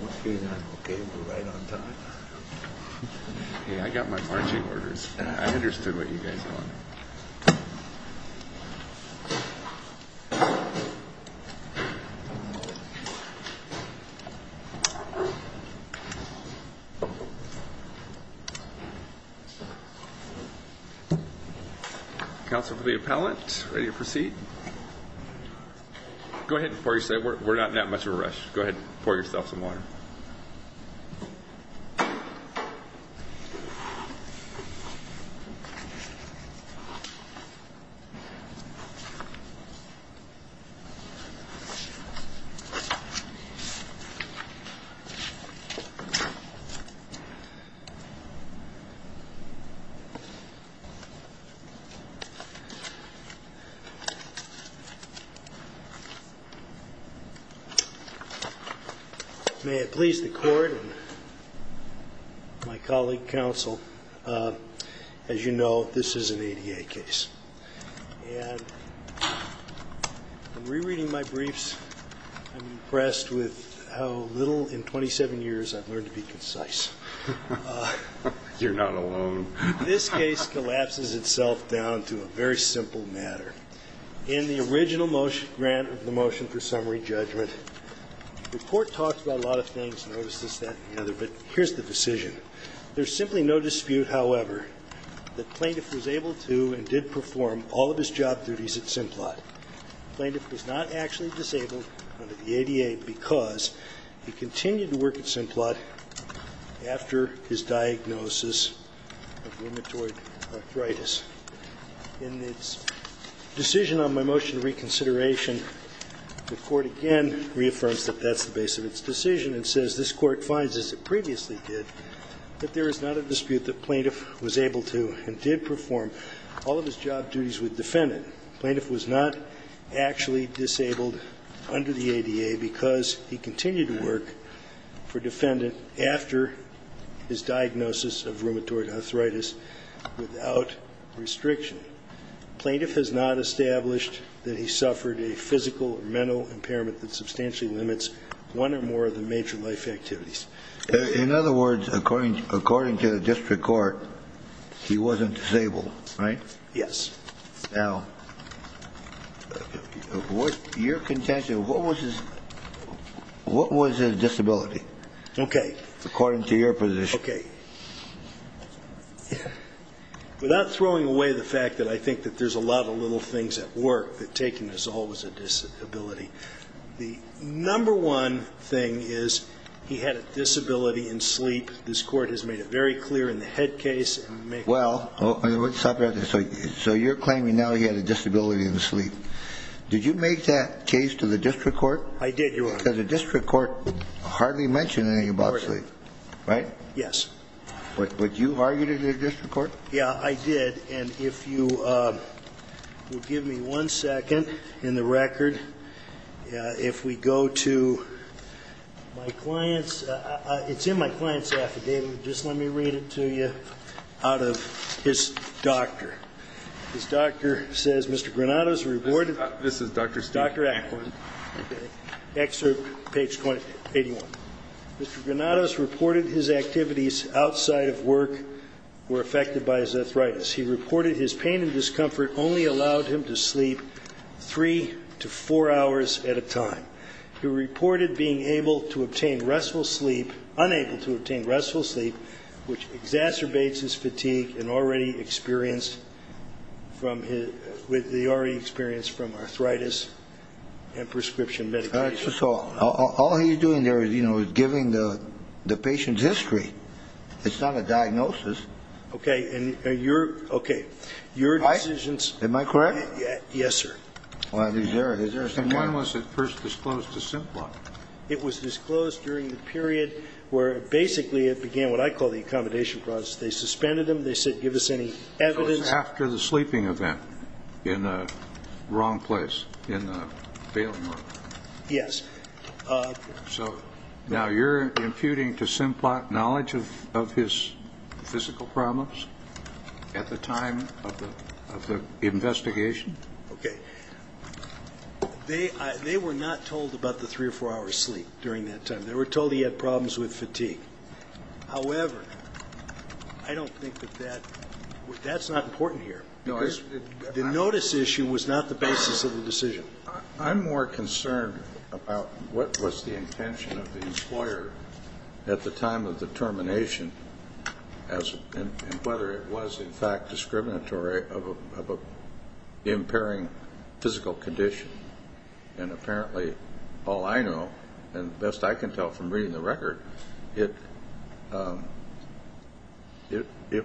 What's going on? Okay, we're right on time. Hey, I got my marching orders. I understood what you guys wanted. Councilor for the appellant, ready to proceed? Go ahead and pour yourself some water. Go ahead and pour yourself some water. May it please the court and my colleague council, as you know, this is an ADA case. And in rereading my briefs, I'm impressed with how little in 27 years I've learned to be concise. You're not alone. This case collapses itself down to a very simple matter. In the original motion, grant of the motion for summary judgment, the court talks about a lot of things, notices that and the other, but here's the decision. There's simply no dispute, however, that plaintiff was able to and did perform all of his job duties at Simplot. Plaintiff was not actually disabled under the ADA because he continued to work at Simplot after his diagnosis of rheumatoid arthritis. In its decision on my motion of reconsideration, the court again reaffirms that that's the base of its decision and says this court finds, as it previously did, that there is not a dispute that plaintiff was able to and did perform all of his job duties with defendant. Plaintiff was not actually disabled under the ADA because he continued to work for defendant after his diagnosis of rheumatoid arthritis without restriction. Plaintiff has not established that he suffered a physical or mental impairment that substantially limits one or more of the major life activities. In other words, according to the district court, he wasn't disabled, right? Yes. Now, your contention, what was his disability? Okay. According to your position. Okay. Without throwing away the fact that I think that there's a lot of little things at work, that taking is always a disability, the number one thing is he had a disability in sleep. This court has made it very clear in the head case. Well, so you're claiming now he had a disability in sleep. Did you make that case to the district court? I did, Your Honor. Because the district court hardly mentioned anything about sleep, right? Yes. But you argued it to the district court? Yeah, I did. And if you will give me one second in the record. If we go to my client's, it's in my client's affidavit. So just let me read it to you out of his doctor. His doctor says, Mr. Granados reported. This is Dr. Steele. Dr. Atwood. Okay. Excerpt, page 81. Mr. Granados reported his activities outside of work were affected by his arthritis. He reported his pain and discomfort only allowed him to sleep three to four hours at a time. He reported being able to obtain restful sleep, unable to obtain restful sleep, which exacerbates his fatigue and already experienced from arthritis and prescription medications. So all he's doing there is, you know, is giving the patient's history. It's not a diagnosis. Okay. And your decisions. Am I correct? Yes, sir. And when was it first disclosed to Simplot? It was disclosed during the period where basically it began what I call the accommodation process. They suspended him. They said give us any evidence. So it was after the sleeping event in the wrong place, in the bailing room. Yes. So now you're imputing to Simplot knowledge of his physical problems at the time of the investigation? Okay. They were not told about the three or four hours sleep during that time. They were told he had problems with fatigue. However, I don't think that that's not important here. The notice issue was not the basis of the decision. I'm more concerned about what was the intention of the employer at the time of the termination and whether it was, in fact, discriminatory of an impairing physical condition. And apparently, all I know, and best I can tell from reading the record, it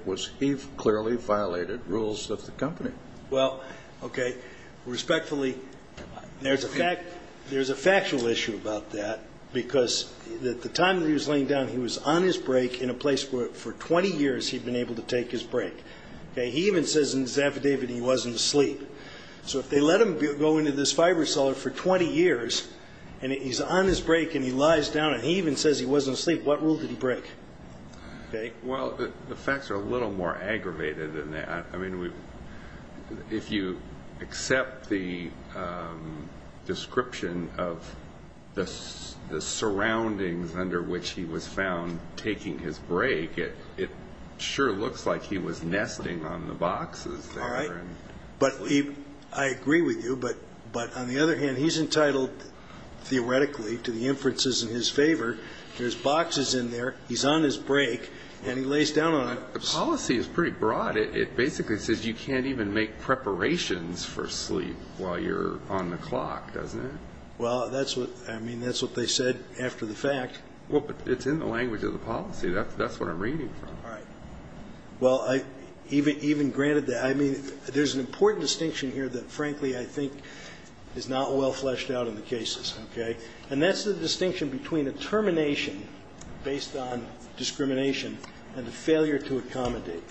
was he clearly violated rules of the company. Well, okay, respectfully, there's a factual issue about that because at the time that he was laying down, he was on his break in a place where for 20 years he'd been able to take his break. He even says in his affidavit he wasn't asleep. So if they let him go into this fiber cellar for 20 years and he's on his break and he lies down and he even says he wasn't asleep, what rule did he break? Well, the facts are a little more aggravated than that. I mean, if you accept the description of the surroundings under which he was found taking his break, it sure looks like he was nesting on the boxes there. All right. But I agree with you, but on the other hand, he's entitled theoretically to the inferences in his favor. There's boxes in there, he's on his break, and he lays down on it. The policy is pretty broad. It basically says you can't even make preparations for sleep while you're on the clock, doesn't it? Well, I mean, that's what they said after the fact. Well, but it's in the language of the policy. That's what I'm reading from. All right. Well, even granted that, I mean, there's an important distinction here that, frankly, I think is not well fleshed out in the cases, okay? And that's the distinction between a termination based on discrimination and a failure to accommodate.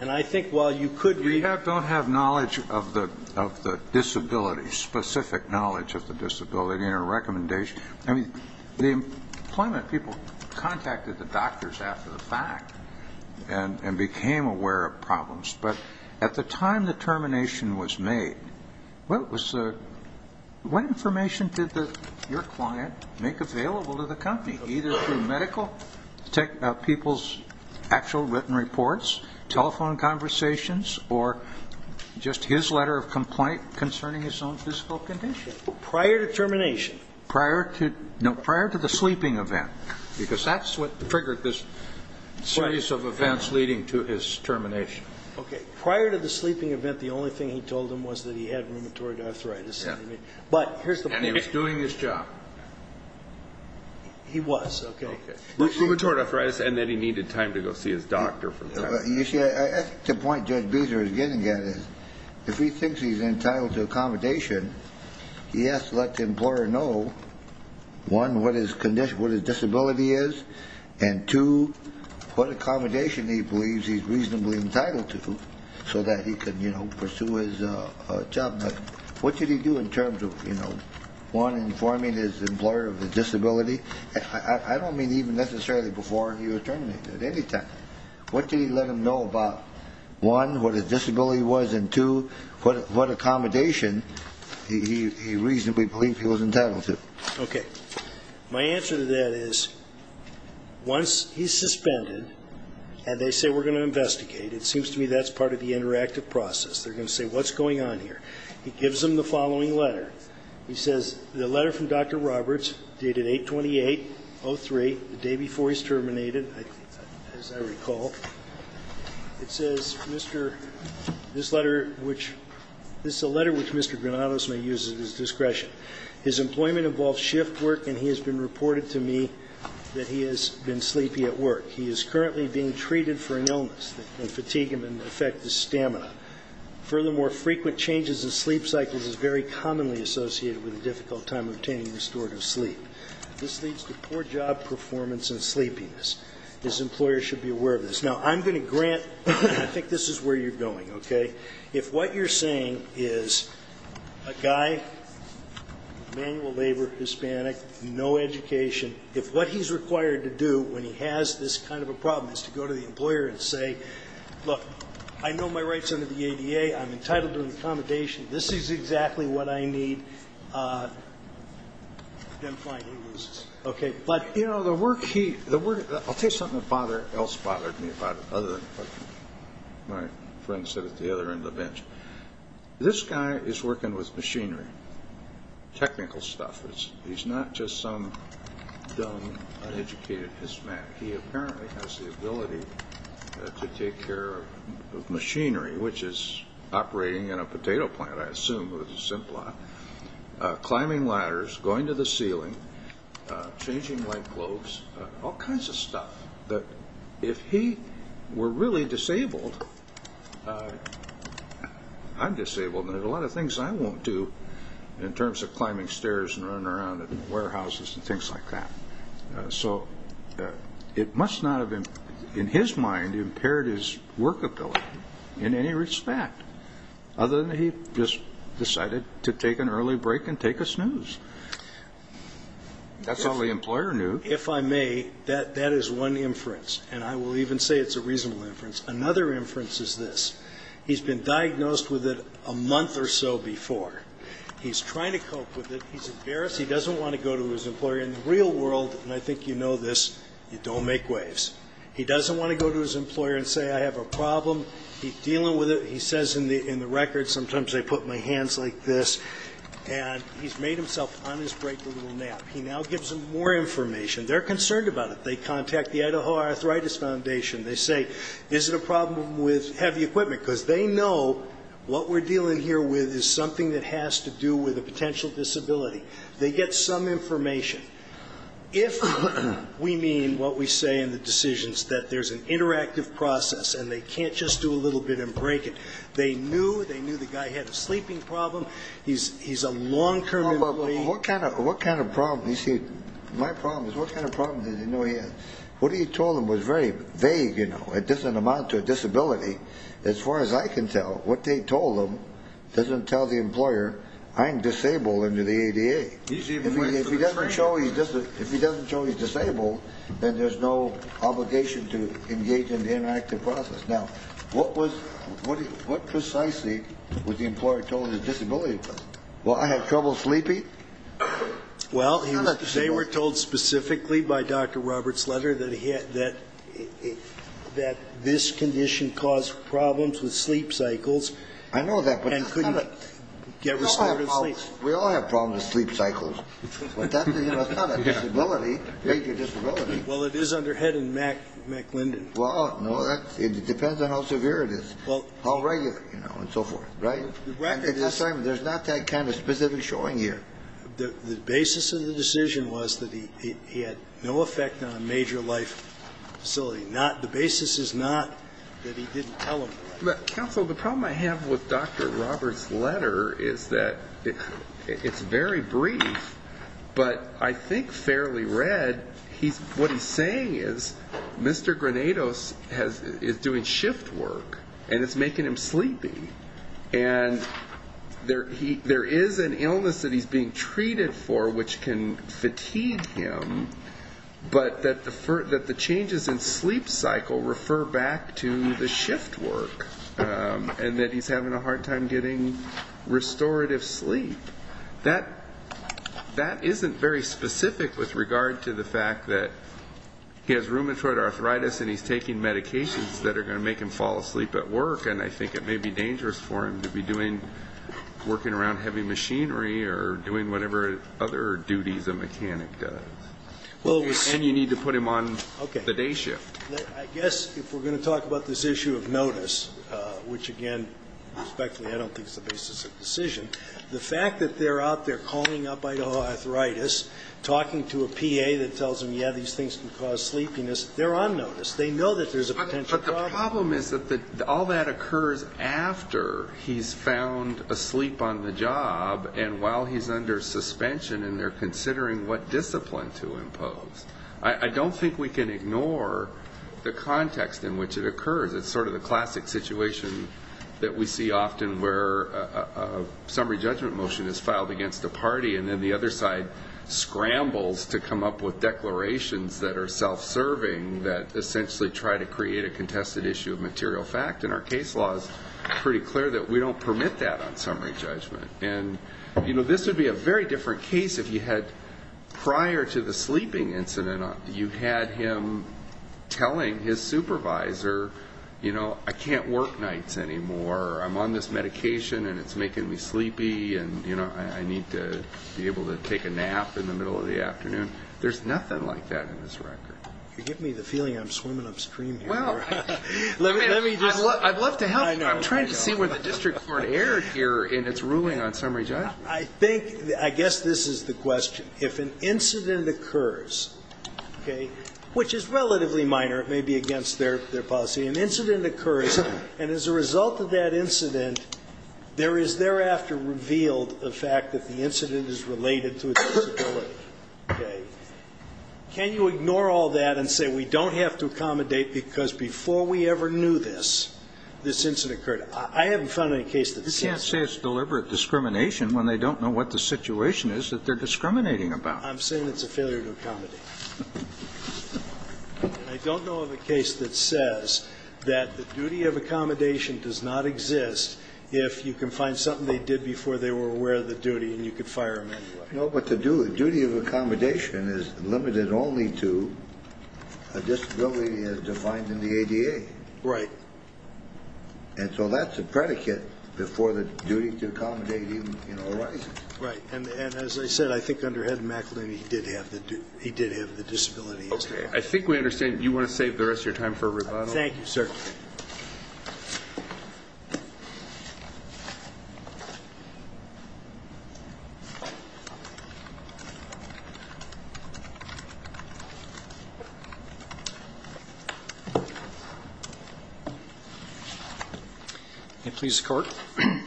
And I think while you could read the law... We don't have knowledge of the disability, specific knowledge of the disability in our recommendation. I mean, the employment people contacted the doctors after the fact and became aware of problems. But at the time the termination was made, what information did your client make available to the company, either through medical people's actual written reports, telephone conversations, or just his letter of complaint concerning his own physical condition? Prior to termination. No, prior to the sleeping event, because that's what triggered this series of events leading to his termination. Okay. Prior to the sleeping event, the only thing he told them was that he had rheumatoid arthritis. But here's the point. And he was doing his job. He was, okay. Okay. Rheumatoid arthritis and that he needed time to go see his doctor for that. You see, I think the point Judge Beazer is getting at is if he thinks he's entitled to accommodation, he has to let the employer know, one, what his disability is, and two, what accommodation he believes he's reasonably entitled to so that he can pursue his job. But what did he do in terms of, you know, one, informing his employer of his disability? I don't mean even necessarily before he was terminated. At any time. What did he let them know about, one, what his disability was, and two, what accommodation he reasonably believed he was entitled to? Okay. My answer to that is once he's suspended and they say, we're going to investigate, it seems to me that's part of the interactive process. They're going to say, what's going on here? He gives them the following letter. He says, the letter from Dr. Roberts dated 8-28-03, the day before he's terminated, as I recall. It says, Mr. This letter, which this is a letter which Mr. Granados may use at his discretion. His employment involves shift work, and he has been reported to me that he has been sleepy at work. He is currently being treated for an illness that can fatigue him and affect his stamina. Furthermore, frequent changes in sleep cycles is very commonly associated with a difficult time obtaining restorative sleep. This leads to poor job performance and sleepiness. His employer should be aware of this. Now, I'm going to grant, I think this is where you're going, okay? If what you're saying is a guy, manual labor, Hispanic, no education, if what he's required to do when he has this kind of a problem is to go to the employer and say, look, I know my rights under the ADA. I'm entitled to an accommodation. This is exactly what I need. Then, fine, he loses. Okay. But, you know, the work he – the work – I'll tell you something that bothered me about it other than what my friend said at the other end of the bench. This guy is working with machinery, technical stuff. He's not just some dumb, uneducated Hispanic. He apparently has the ability to take care of machinery, which is operating in a potato plant, I assume, climbing ladders, going to the ceiling, changing lightbulbs, all kinds of stuff. But if he were really disabled, I'm disabled and there's a lot of things I won't do in terms of climbing stairs and running around in warehouses and things like that. So it must not have, in his mind, impaired his workability in any respect other than he just decided to take an early break and take a snooze. That's all the employer knew. If I may, that is one inference, and I will even say it's a reasonable inference. Another inference is this. He's been diagnosed with it a month or so before. He's trying to cope with it. He's embarrassed. He doesn't want to go to his employer. In the real world, and I think you know this, you don't make waves. He doesn't want to go to his employer and say, I have a problem. He's dealing with it. He says in the record, sometimes I put my hands like this, and he's made himself, on his break, a little nap. He now gives them more information. They're concerned about it. They contact the Idaho Arthritis Foundation. They say, is it a problem with heavy equipment? Because they know what we're dealing here with is something that has to do with a potential disability. They get some information. If we mean what we say in the decisions, that there's an interactive process and they can't just do a little bit and break it. They knew the guy had a sleeping problem. He's a long-term employee. What kind of problem? You see, my problem is what kind of problem does he know he has? What he told them was very vague. It doesn't amount to a disability. As far as I can tell, what they told him doesn't tell the employer, I'm disabled under the ADA. If he doesn't show he's disabled, then there's no obligation to engage in the interactive process. Now, what precisely was the employer told his disability was? Well, I have trouble sleeping? Well, they were told specifically by Dr. Roberts' letter that this condition caused problems with sleep cycles. I know that, but it's kind of... And couldn't get restorative sleep. We all have problems with sleep cycles. But that's not a disability, major disability. Well, it is under Head and McLinden. Well, no, it depends on how severe it is, how regular, you know, and so forth, right? At this time, there's not that kind of specific showing here. The basis of the decision was that he had no effect on a major life facility. The basis is not that he didn't tell them. Counsel, the problem I have with Dr. Roberts' letter is that it's very brief, but I think fairly read. What he's saying is Mr. Granados is doing shift work, and it's making him sleepy. And there is an illness that he's being treated for which can fatigue him, but that the changes in sleep cycle refer back to the shift work and that he's having a hard time getting restorative sleep. That isn't very specific with regard to the fact that he has rheumatoid arthritis and he's taking medications that are going to make him fall asleep at work, and I think it may be dangerous for him to be working around heavy machinery or doing whatever other duties a mechanic does. And you need to put him on the day shift. I guess if we're going to talk about this issue of notice, which, again, respectfully I don't think is the basis of the decision, the fact that they're out there calling up Idaho Arthritis, talking to a PA that tells them, yeah, these things can cause sleepiness, they're on notice. They know that there's a potential problem. But the problem is that all that occurs after he's found asleep on the job and while he's under suspension and they're considering what discipline to impose. I don't think we can ignore the context in which it occurs. It's sort of the classic situation that we see often where a summary judgment motion is filed against a party and then the other side scrambles to come up with declarations that are self-serving that essentially try to create a contested issue of material fact. And our case law is pretty clear that we don't permit that on summary judgment. And, you know, this would be a very different case if you had prior to the sleeping incident, you had him telling his supervisor, you know, I can't work nights anymore. I'm on this medication and it's making me sleepy and, you know, I need to be able to take a nap in the middle of the afternoon. There's nothing like that in this record. You're giving me the feeling I'm swimming upstream here. Let me just. I'd love to help you. I'm trying to see where the district court erred here in its ruling on summary judgment. I think, I guess this is the question. If an incident occurs, okay, which is relatively minor. It may be against their policy. An incident occurs and as a result of that incident, there is thereafter revealed the fact that the incident is related to a disability. Okay. Can you ignore all that and say we don't have to accommodate because before we ever knew this, this incident occurred? I haven't found any case that says. You can't say it's deliberate discrimination when they don't know what the situation is that they're discriminating about. I'm saying it's a failure to accommodate. And I don't know of a case that says that the duty of accommodation does not exist if you can find something they did before they were aware of the duty and you could fire them anyway. No, but the duty of accommodation is limited only to a disability as defined in the ADA. Right. And so that's a predicate before the duty to accommodate even arises. Right. And as I said, I think under Ed McAleenan, he did have the disability. Okay. I think we understand. Do you want to save the rest of your time for a rebuttal? Thank you, sir. I'm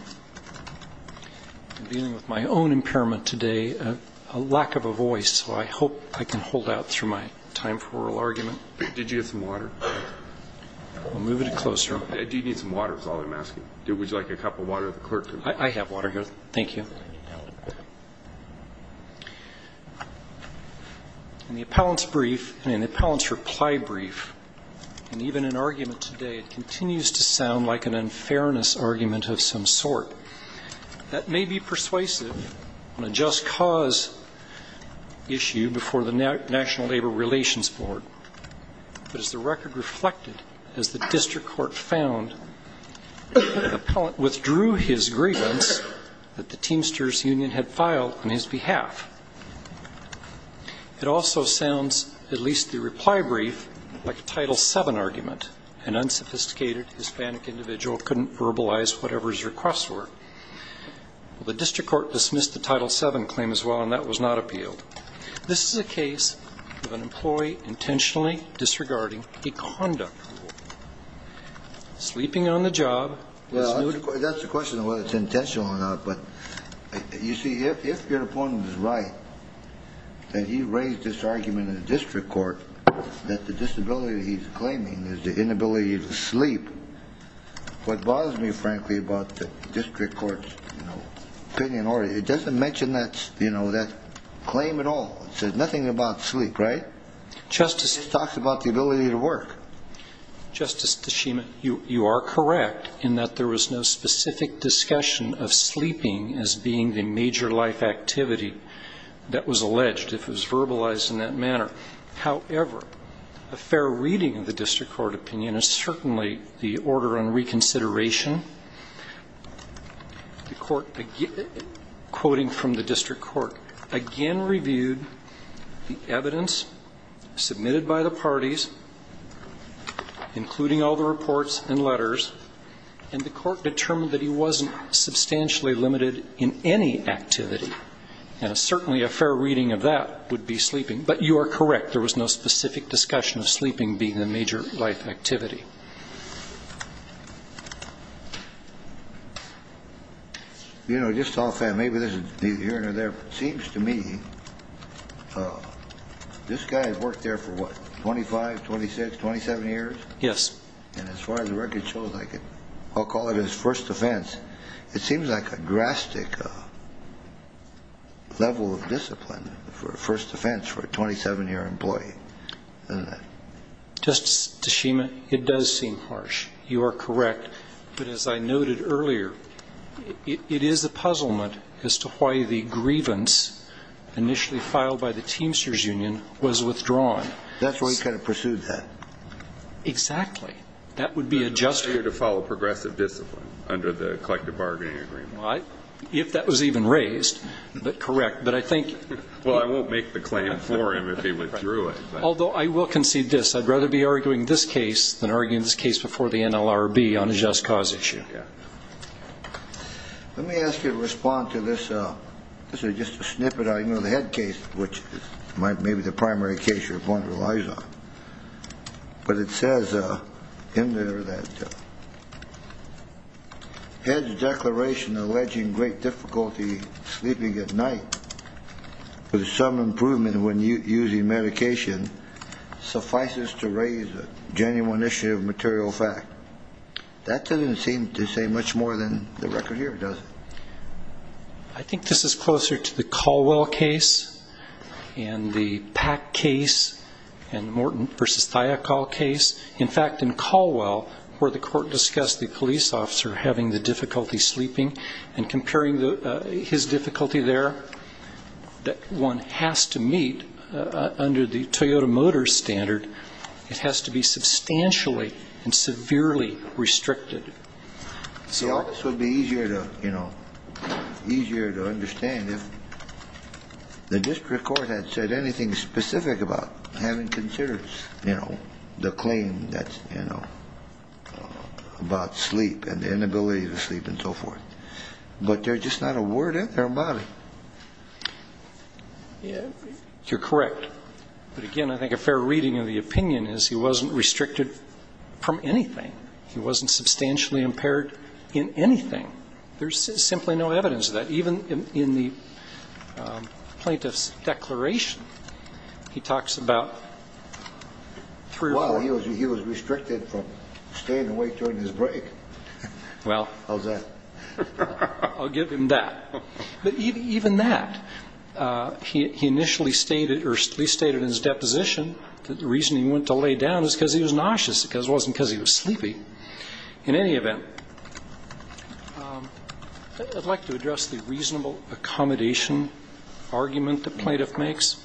dealing with my own impairment today, a lack of a voice, so I hope I can hold out through my time for oral argument. Did you get some water? We'll move it closer. I do need some water is all I'm asking. Would you like a cup of water that the clerk can bring? Thank you. Thank you. Thank you. Thank you. Thank you. Thank you. Thank you. Thank you. Okay. Thank you. Thank you. Thank you. Thank you. In the appellant's brief, and in the appellant's reply brief, and even in argument today, it continues to sound like an unfairness argument of some sort. That may be persuasive on a just cause issue before the National Labor Relations Board, but as the record reflected as the district court found, the appellant withdrew his grievance that the Teamsters Union had filed on his behalf. It also sounds, at least the reply brief, like a Title VII argument. An unsophisticated Hispanic individual couldn't verbalize whatever his requests were. The district court dismissed the Title VII claim as well, and that was not appealed. This is a case of an employee intentionally disregarding a conduct rule. Sleeping on the job is nude. That's the question of whether it's intentional or not. But you see, if your opponent is right, that he raised this argument in the district court that the disability he's claiming is the inability to sleep, what bothers me, frankly, about the district court's opinion, it doesn't mention that claim at all. It says nothing about sleep, right? It just talks about the ability to work. Justice Tshima, you are correct in that there was no specific discussion of sleeping as being the major life activity that was alleged, if it was verbalized in that manner. However, a fair reading of the district court opinion is certainly the order on reconsideration. The court, quoting from the district court, again reviewed the evidence submitted by the parties, including all the reports and letters, and the court determined that he wasn't substantially limited in any activity. And certainly a fair reading of that would be sleeping. But you are correct. There was no specific discussion of sleeping being the major life activity. You know, just off that, maybe this is neither here nor there, but it seems to me this guy has worked there for what, 25, 26, 27 years? Yes. And as far as the record shows, I'll call it his first offense. It seems like a drastic level of discipline for a first offense for a 27-year employee, doesn't it? Justice Tshima, it does seem harsh. You are correct. But as I noted earlier, it is a puzzlement as to why the grievance initially filed by the Teamsters Union was withdrawn. That's why he kind of pursued that. Exactly. That would be a justification. He was here to follow progressive discipline under the collective bargaining agreement. Well, if that was even raised, but correct. But I think he was. Well, I won't make the claim for him if he withdrew it. Although I will concede this. I'd rather be arguing this case than arguing this case before the NLRB on a just cause issue. Okay. Let me ask you to respond to this. This is just a snippet. I know the head case, which is maybe the primary case your point relies on. But it says in there that the head's declaration alleging great difficulty sleeping at night with some improvement when using medication suffices to raise a genuine issue of material fact. That doesn't seem to say much more than the record here, does it? I think this is closer to the Caldwell case and the Pack case and Morton v. Thiokol case. In fact, in Caldwell, where the court discussed the police officer having the difficulty sleeping and comparing his difficulty there, that one has to meet, under the Toyota Motors standard, it has to be substantially and severely restricted. The office would be easier to understand if the district court had said anything specific about having considered, you know, the claim that's, you know, about sleep and the inability to sleep and so forth. But there's just not a word in there about it. You're correct. But, again, I think a fair reading of the opinion is he wasn't restricted from anything. He wasn't substantially impaired in anything. There's simply no evidence of that. Even in the plaintiff's declaration, he talks about three or four. Well, he was restricted from staying awake during his break. Well. How's that? I'll give him that. But even that, he initially stated, or at least stated in his deposition, that the reason he went to lay down is because he was nauseous. It wasn't because he was sleepy. In any event, I'd like to address the reasonable accommodation argument the plaintiff makes.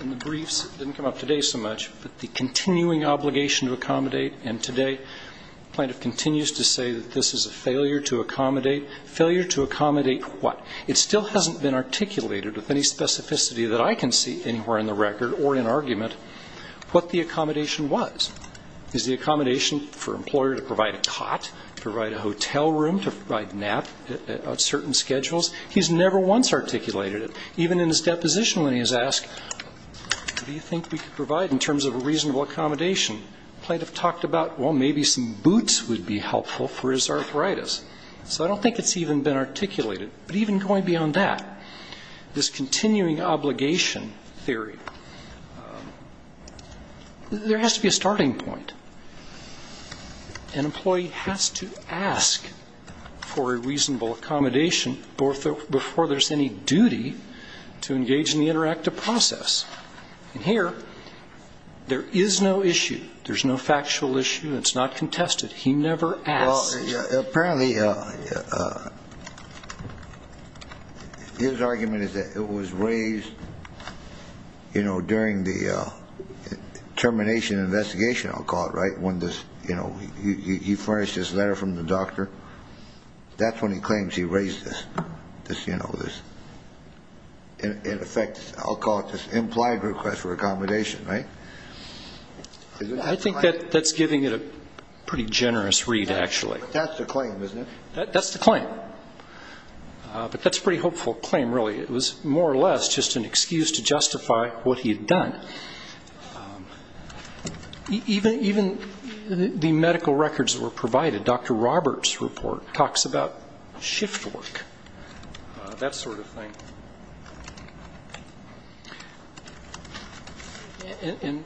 In the briefs, it didn't come up today so much, but the continuing obligation to accommodate, and today the plaintiff continues to say that this is a failure to accommodate. Failure to accommodate what? It still hasn't been articulated with any specificity that I can see anywhere in the record or in argument what the accommodation was. Is the accommodation for an employer to provide a cot, provide a hotel room, to provide a nap on certain schedules? He's never once articulated it. Even in his deposition when he was asked, what do you think we could provide in terms of a reasonable accommodation, the plaintiff talked about, well, maybe some boots would be helpful for his arthritis. So I don't think it's even been articulated. But even going beyond that, this continuing obligation theory, there has to be a starting point. An employee has to ask for a reasonable accommodation before there's any duty to engage in the interactive process. And here, there is no issue. There's no factual issue. It's not contested. He never asked. Apparently, his argument is that it was raised, you know, during the termination investigation, I'll call it, right, when this, you know, he furnished this letter from the doctor. That's when he claims he raised this, you know, this, in effect, I'll call it this implied request for accommodation, right? I think that's giving it a pretty generous read, actually. But that's the claim, isn't it? That's the claim. But that's a pretty hopeful claim, really. It was more or less just an excuse to justify what he had done. Even the medical records that were provided, Dr. Roberts' report talks about shift work, that sort of thing. And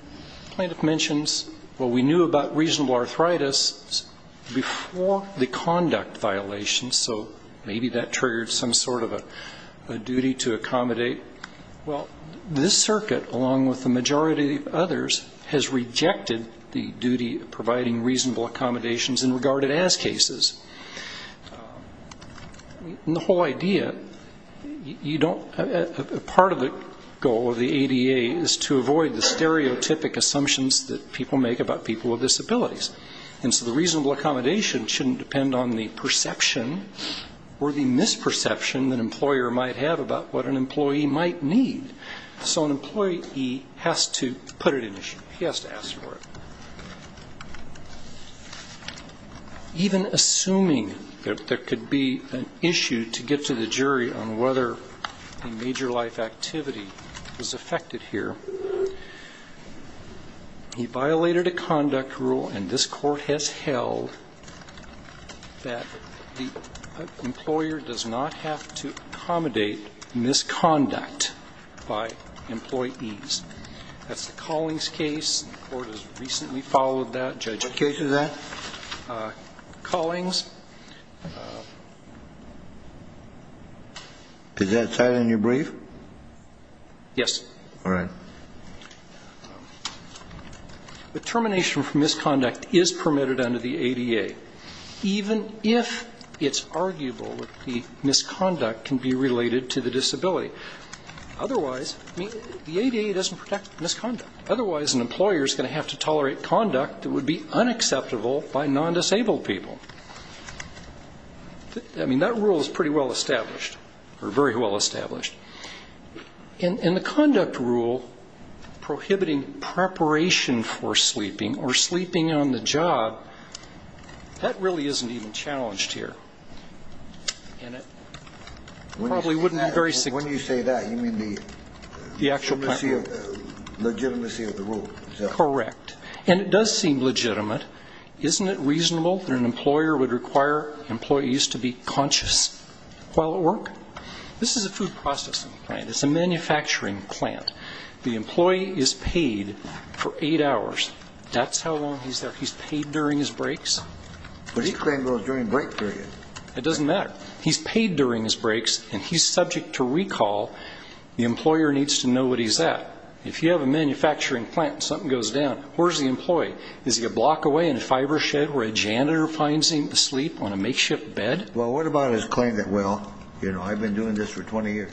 the plaintiff mentions, well, we knew about reasonable arthritis before the conduct violations, so maybe that triggered some sort of a duty to accommodate. Well, this circuit, along with the majority of others, has rejected the duty of providing reasonable accommodations in regarded as cases. And the whole idea, you don't, part of the goal of the ADA is to avoid the stereotypic assumptions that people make about people with disabilities. And so the reasonable accommodation shouldn't depend on the perception or the misperception that an employer might have about what an employee might need. So an employee has to put it in issue. He has to ask for it. Even assuming that there could be an issue to get to the jury on whether a major life activity was affected here, he violated a conduct rule, and this court has held that the employer does not have to accommodate misconduct by employees. That's the Collings case. The court has recently followed that. Judge? The case is that? Collings. Is that cited in your brief? Yes. All right. The termination of misconduct is permitted under the ADA, even if it's arguable that the misconduct can be related to the disability. Otherwise, the ADA doesn't protect misconduct. Otherwise, an employer is going to have to tolerate conduct that would be unacceptable by non-disabled people. I mean, that rule is pretty well established, or very well established. And the conduct rule prohibiting preparation for sleeping or sleeping on the job, that really isn't even challenged here, and it probably wouldn't be very significant. When you say that, you mean the legitimacy of the rule? Correct. And it does seem legitimate. Isn't it reasonable that an employer would require employees to be conscious while at work? This is a food processing plant. It's a manufacturing plant. The employee is paid for eight hours. That's how long he's there. He's paid during his breaks. But he claimed it was during break period. It doesn't matter. He's paid during his breaks, and he's subject to recall. The employer needs to know what he's at. If you have a manufacturing plant and something goes down, where's the employee? Is he a block away in a fiber shed where a janitor finds him asleep on a makeshift bed? Well, what about his claim that, well, you know, I've been doing this for 20 years?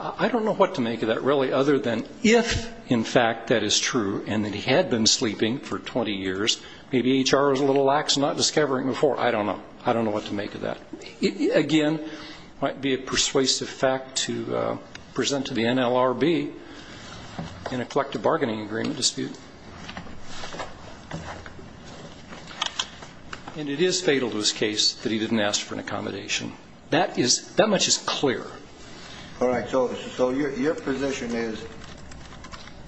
I don't know what to make of that, really, other than if, in fact, that is true, and that he had been sleeping for 20 years, maybe HR was a little lax in not discovering it before. I don't know. I don't know what to make of that. Again, it might be a persuasive fact to present to the NLRB in a collective bargaining agreement dispute. And it is fatal to his case that he didn't ask for an accommodation. That much is clear. All right. So your position is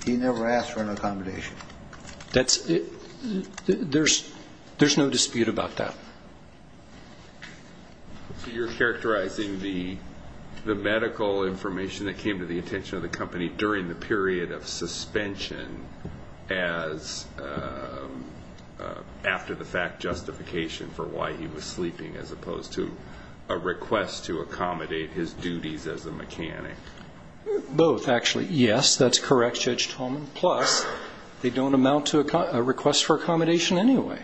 he never asked for an accommodation? There's no dispute about that. So you're characterizing the medical information that came to the attention of the company during the period of suspension as after-the-fact justification for why he was sleeping as opposed to a request to accommodate his duties as a mechanic? Both, actually. Yes, that's correct, Judge Tolman. Plus, they don't amount to a request for accommodation anyway.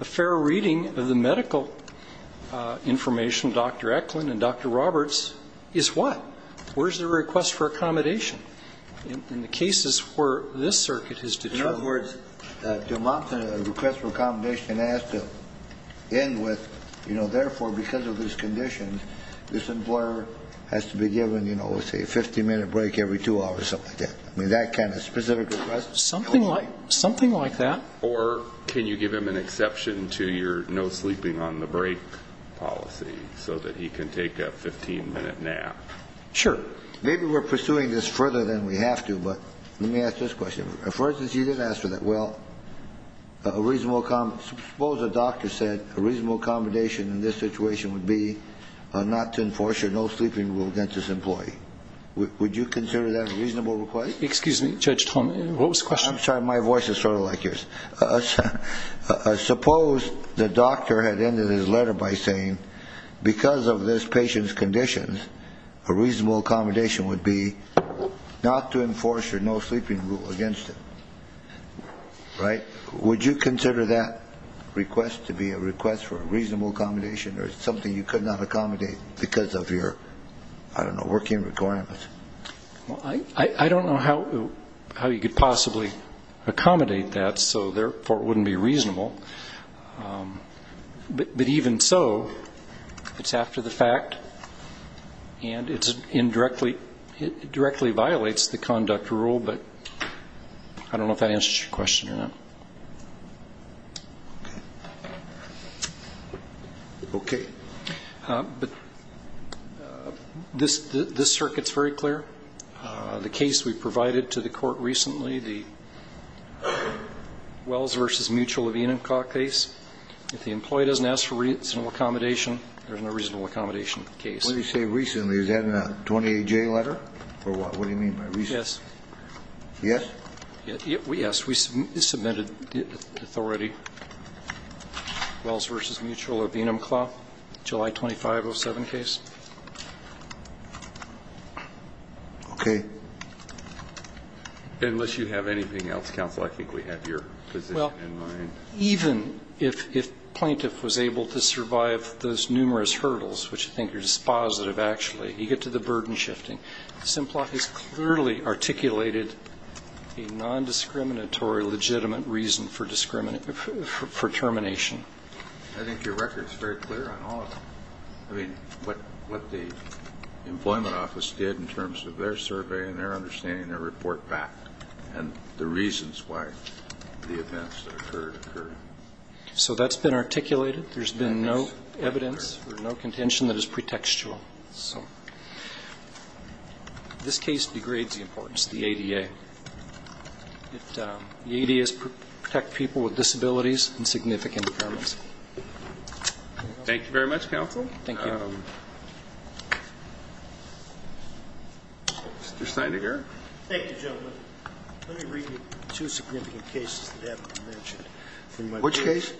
A fair reading of the medical information, Dr. Eklund and Dr. Roberts, is what? Where's the request for accommodation? In the cases where this circuit has determined... In other words, to amount to a request for accommodation, it has to end with, you know, therefore, because of these conditions, this employer has to be given, you know, let's say a 50-minute break every two hours or something like that. I mean, that kind of specific request? Something like that. Or can you give him an exception to your no sleeping on the break policy so that he can take a 15-minute nap? Sure. Maybe we're pursuing this further than we have to, but let me ask this question. For instance, he did ask for that. Well, a reasonable... Suppose a doctor said a reasonable accommodation in this situation would be not to enforce your no sleeping rule against this employee. Would you consider that a reasonable request? Excuse me, Judge Tom, what was the question? I'm sorry, my voice is sort of like yours. Suppose the doctor had ended his letter by saying because of this patient's conditions, a reasonable accommodation would be not to enforce your no sleeping rule against him. Right? Would you consider that request to be a request for a reasonable accommodation or something you could not accommodate because of your, I don't know, working requirements? Well, I don't know how you could possibly accommodate that, so therefore it wouldn't be reasonable. But even so, it's after the fact and it directly violates the conduct rule, but I don't know if that answers your question or not. Okay. But this circuit's very clear. The case we provided to the Court recently, the Wells v. Mutual of Enumclaw case, if the employee doesn't ask for reasonable accommodation, there's no reasonable accommodation case. What do you say recently? Is that in a 28-J letter or what? What do you mean by recently? Yes. Yes? Yes. Yes, we submitted authority, Wells v. Mutual of Enumclaw, July 2507 case. Okay. Unless you have anything else, counsel, I think we have your position in mind. Well, even if plaintiff was able to survive those numerous hurdles, which I think are dispositive actually, you get to the burden shifting. Simplot has clearly articulated a nondiscriminatory legitimate reason for termination. I think your record's very clear on all of them. I mean, what the employment office did in terms of their survey and their understanding their report back and the reasons why the events that occurred occurred. So that's been articulated. There's been no evidence or no contention that is pretextual. So this case degrades the importance of the ADA. The ADA is to protect people with disabilities and significant impairments. Thank you very much, counsel. Thank you. Mr. Steineger. Thank you, gentlemen. Let me read you two significant cases that haven't been mentioned. Which case?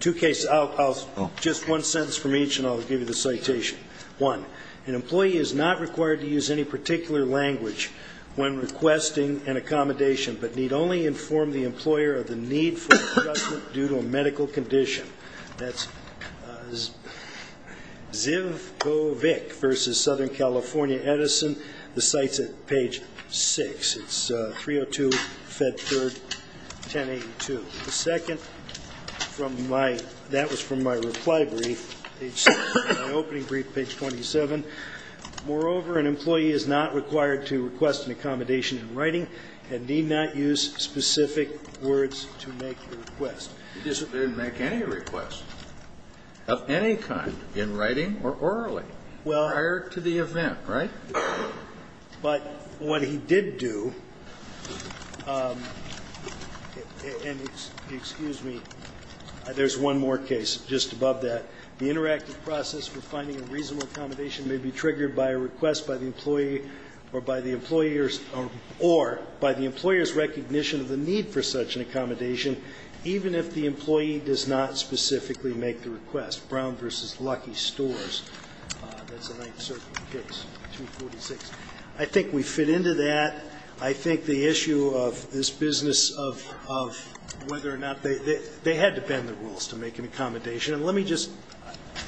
Two cases. I'll just one sentence from each and I'll give you the citation. One, an employee is not required to use any particular language when requesting an accommodation but need only inform the employer of the need for adjustment due to a medical condition. That's Zivkovic versus Southern California Edison. The site's at page 6. It's 302, Fed 3rd, 1082. The second, that was from my reply brief, page 6, my opening brief, page 27. Moreover, an employee is not required to request an accommodation in writing and need not use specific words to make the request. He didn't make any requests of any kind in writing or orally prior to the event, right? But what he did do, and excuse me, there's one more case just above that. The interactive process for finding a reasonable accommodation may be triggered by a request by the employee or by the employer's or by the employer's recognition of the need for such an accommodation even if the employee does not specifically make the request. Brown versus Lucky Stores. That's the Ninth Circuit case, 246. I think we fit into that. I think the issue of this business of whether or not they had to bend the rules to make an accommodation. And let me just,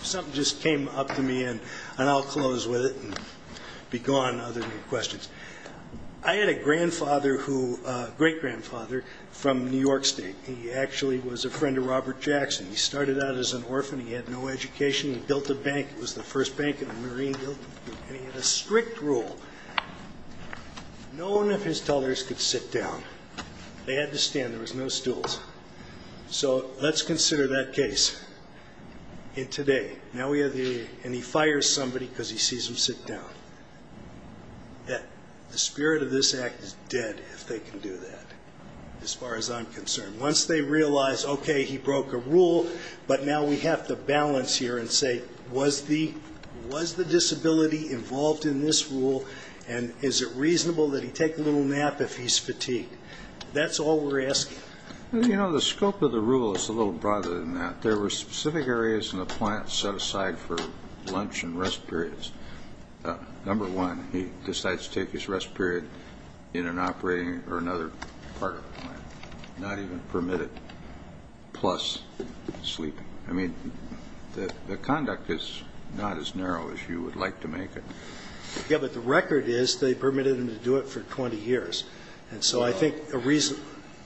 something just came up to me, and I'll close with it and be gone other than your questions. I had a grandfather who, great-grandfather, from New York State. He actually was a friend of Robert Jackson. He started out as an orphan. He had no education. He built a bank. It was the first bank in the Marine. And he had a strict rule. They had to stand. There was no stools. So let's consider that case. And today, now we have the, and he fires somebody because he sees him sit down. The spirit of this act is dead if they can do that as far as I'm concerned. Once they realize, okay, he broke a rule, but now we have to balance here and say, was the disability involved in this rule? And is it reasonable that he take a little nap if he's fatigued? That's all we're asking. Well, you know, the scope of the rule is a little broader than that. There were specific areas in the plant set aside for lunch and rest periods. Number one, he decides to take his rest period in an operating or another part of the plant, not even permitted, plus sleeping. I mean, the conduct is not as narrow as you would like to make it. Yeah, but the record is they permitted him to do it for 20 years. And so I think the reason.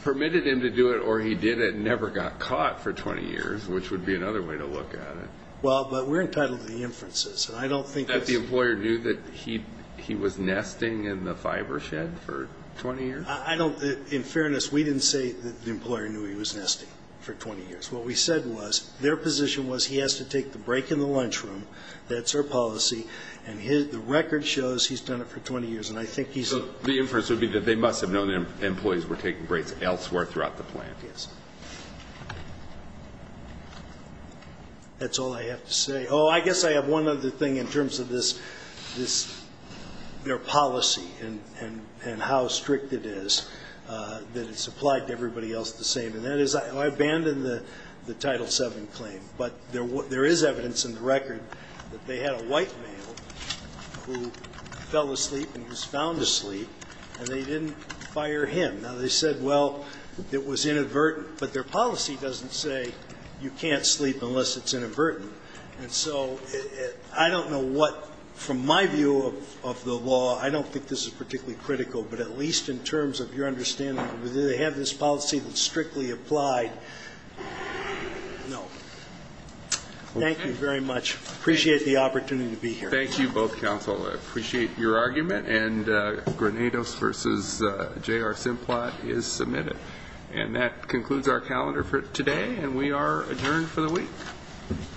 Permitted him to do it or he did it and never got caught for 20 years, which would be another way to look at it. Well, but we're entitled to the inferences. I don't think that's. That the employer knew that he was nesting in the fiber shed for 20 years? I don't, in fairness, we didn't say that the employer knew he was nesting for 20 years. What we said was their position was he has to take the break in the lunchroom. That's our policy. And the record shows he's done it for 20 years, and I think he's. So the inference would be that they must have known their employees were taking breaks elsewhere throughout the plant. Yes. That's all I have to say. Oh, I guess I have one other thing in terms of this, their policy and how strict it is, that it's applied to everybody else the same, and that is I abandoned the Title VII claim, but there is evidence in the record that they had a white male who fell asleep and was found asleep, and they didn't fire him. Now, they said, well, it was inadvertent, but their policy doesn't say you can't sleep unless it's inadvertent. And so I don't know what, from my view of the law, I don't think this is particularly critical, but at least in terms of your understanding, do they have this policy that's strictly applied? No. Thank you very much. Appreciate the opportunity to be here. Thank you both, counsel. I appreciate your argument, and Granados v. J.R. Simplot is submitted. And that concludes our calendar for today, and we are adjourned for the week.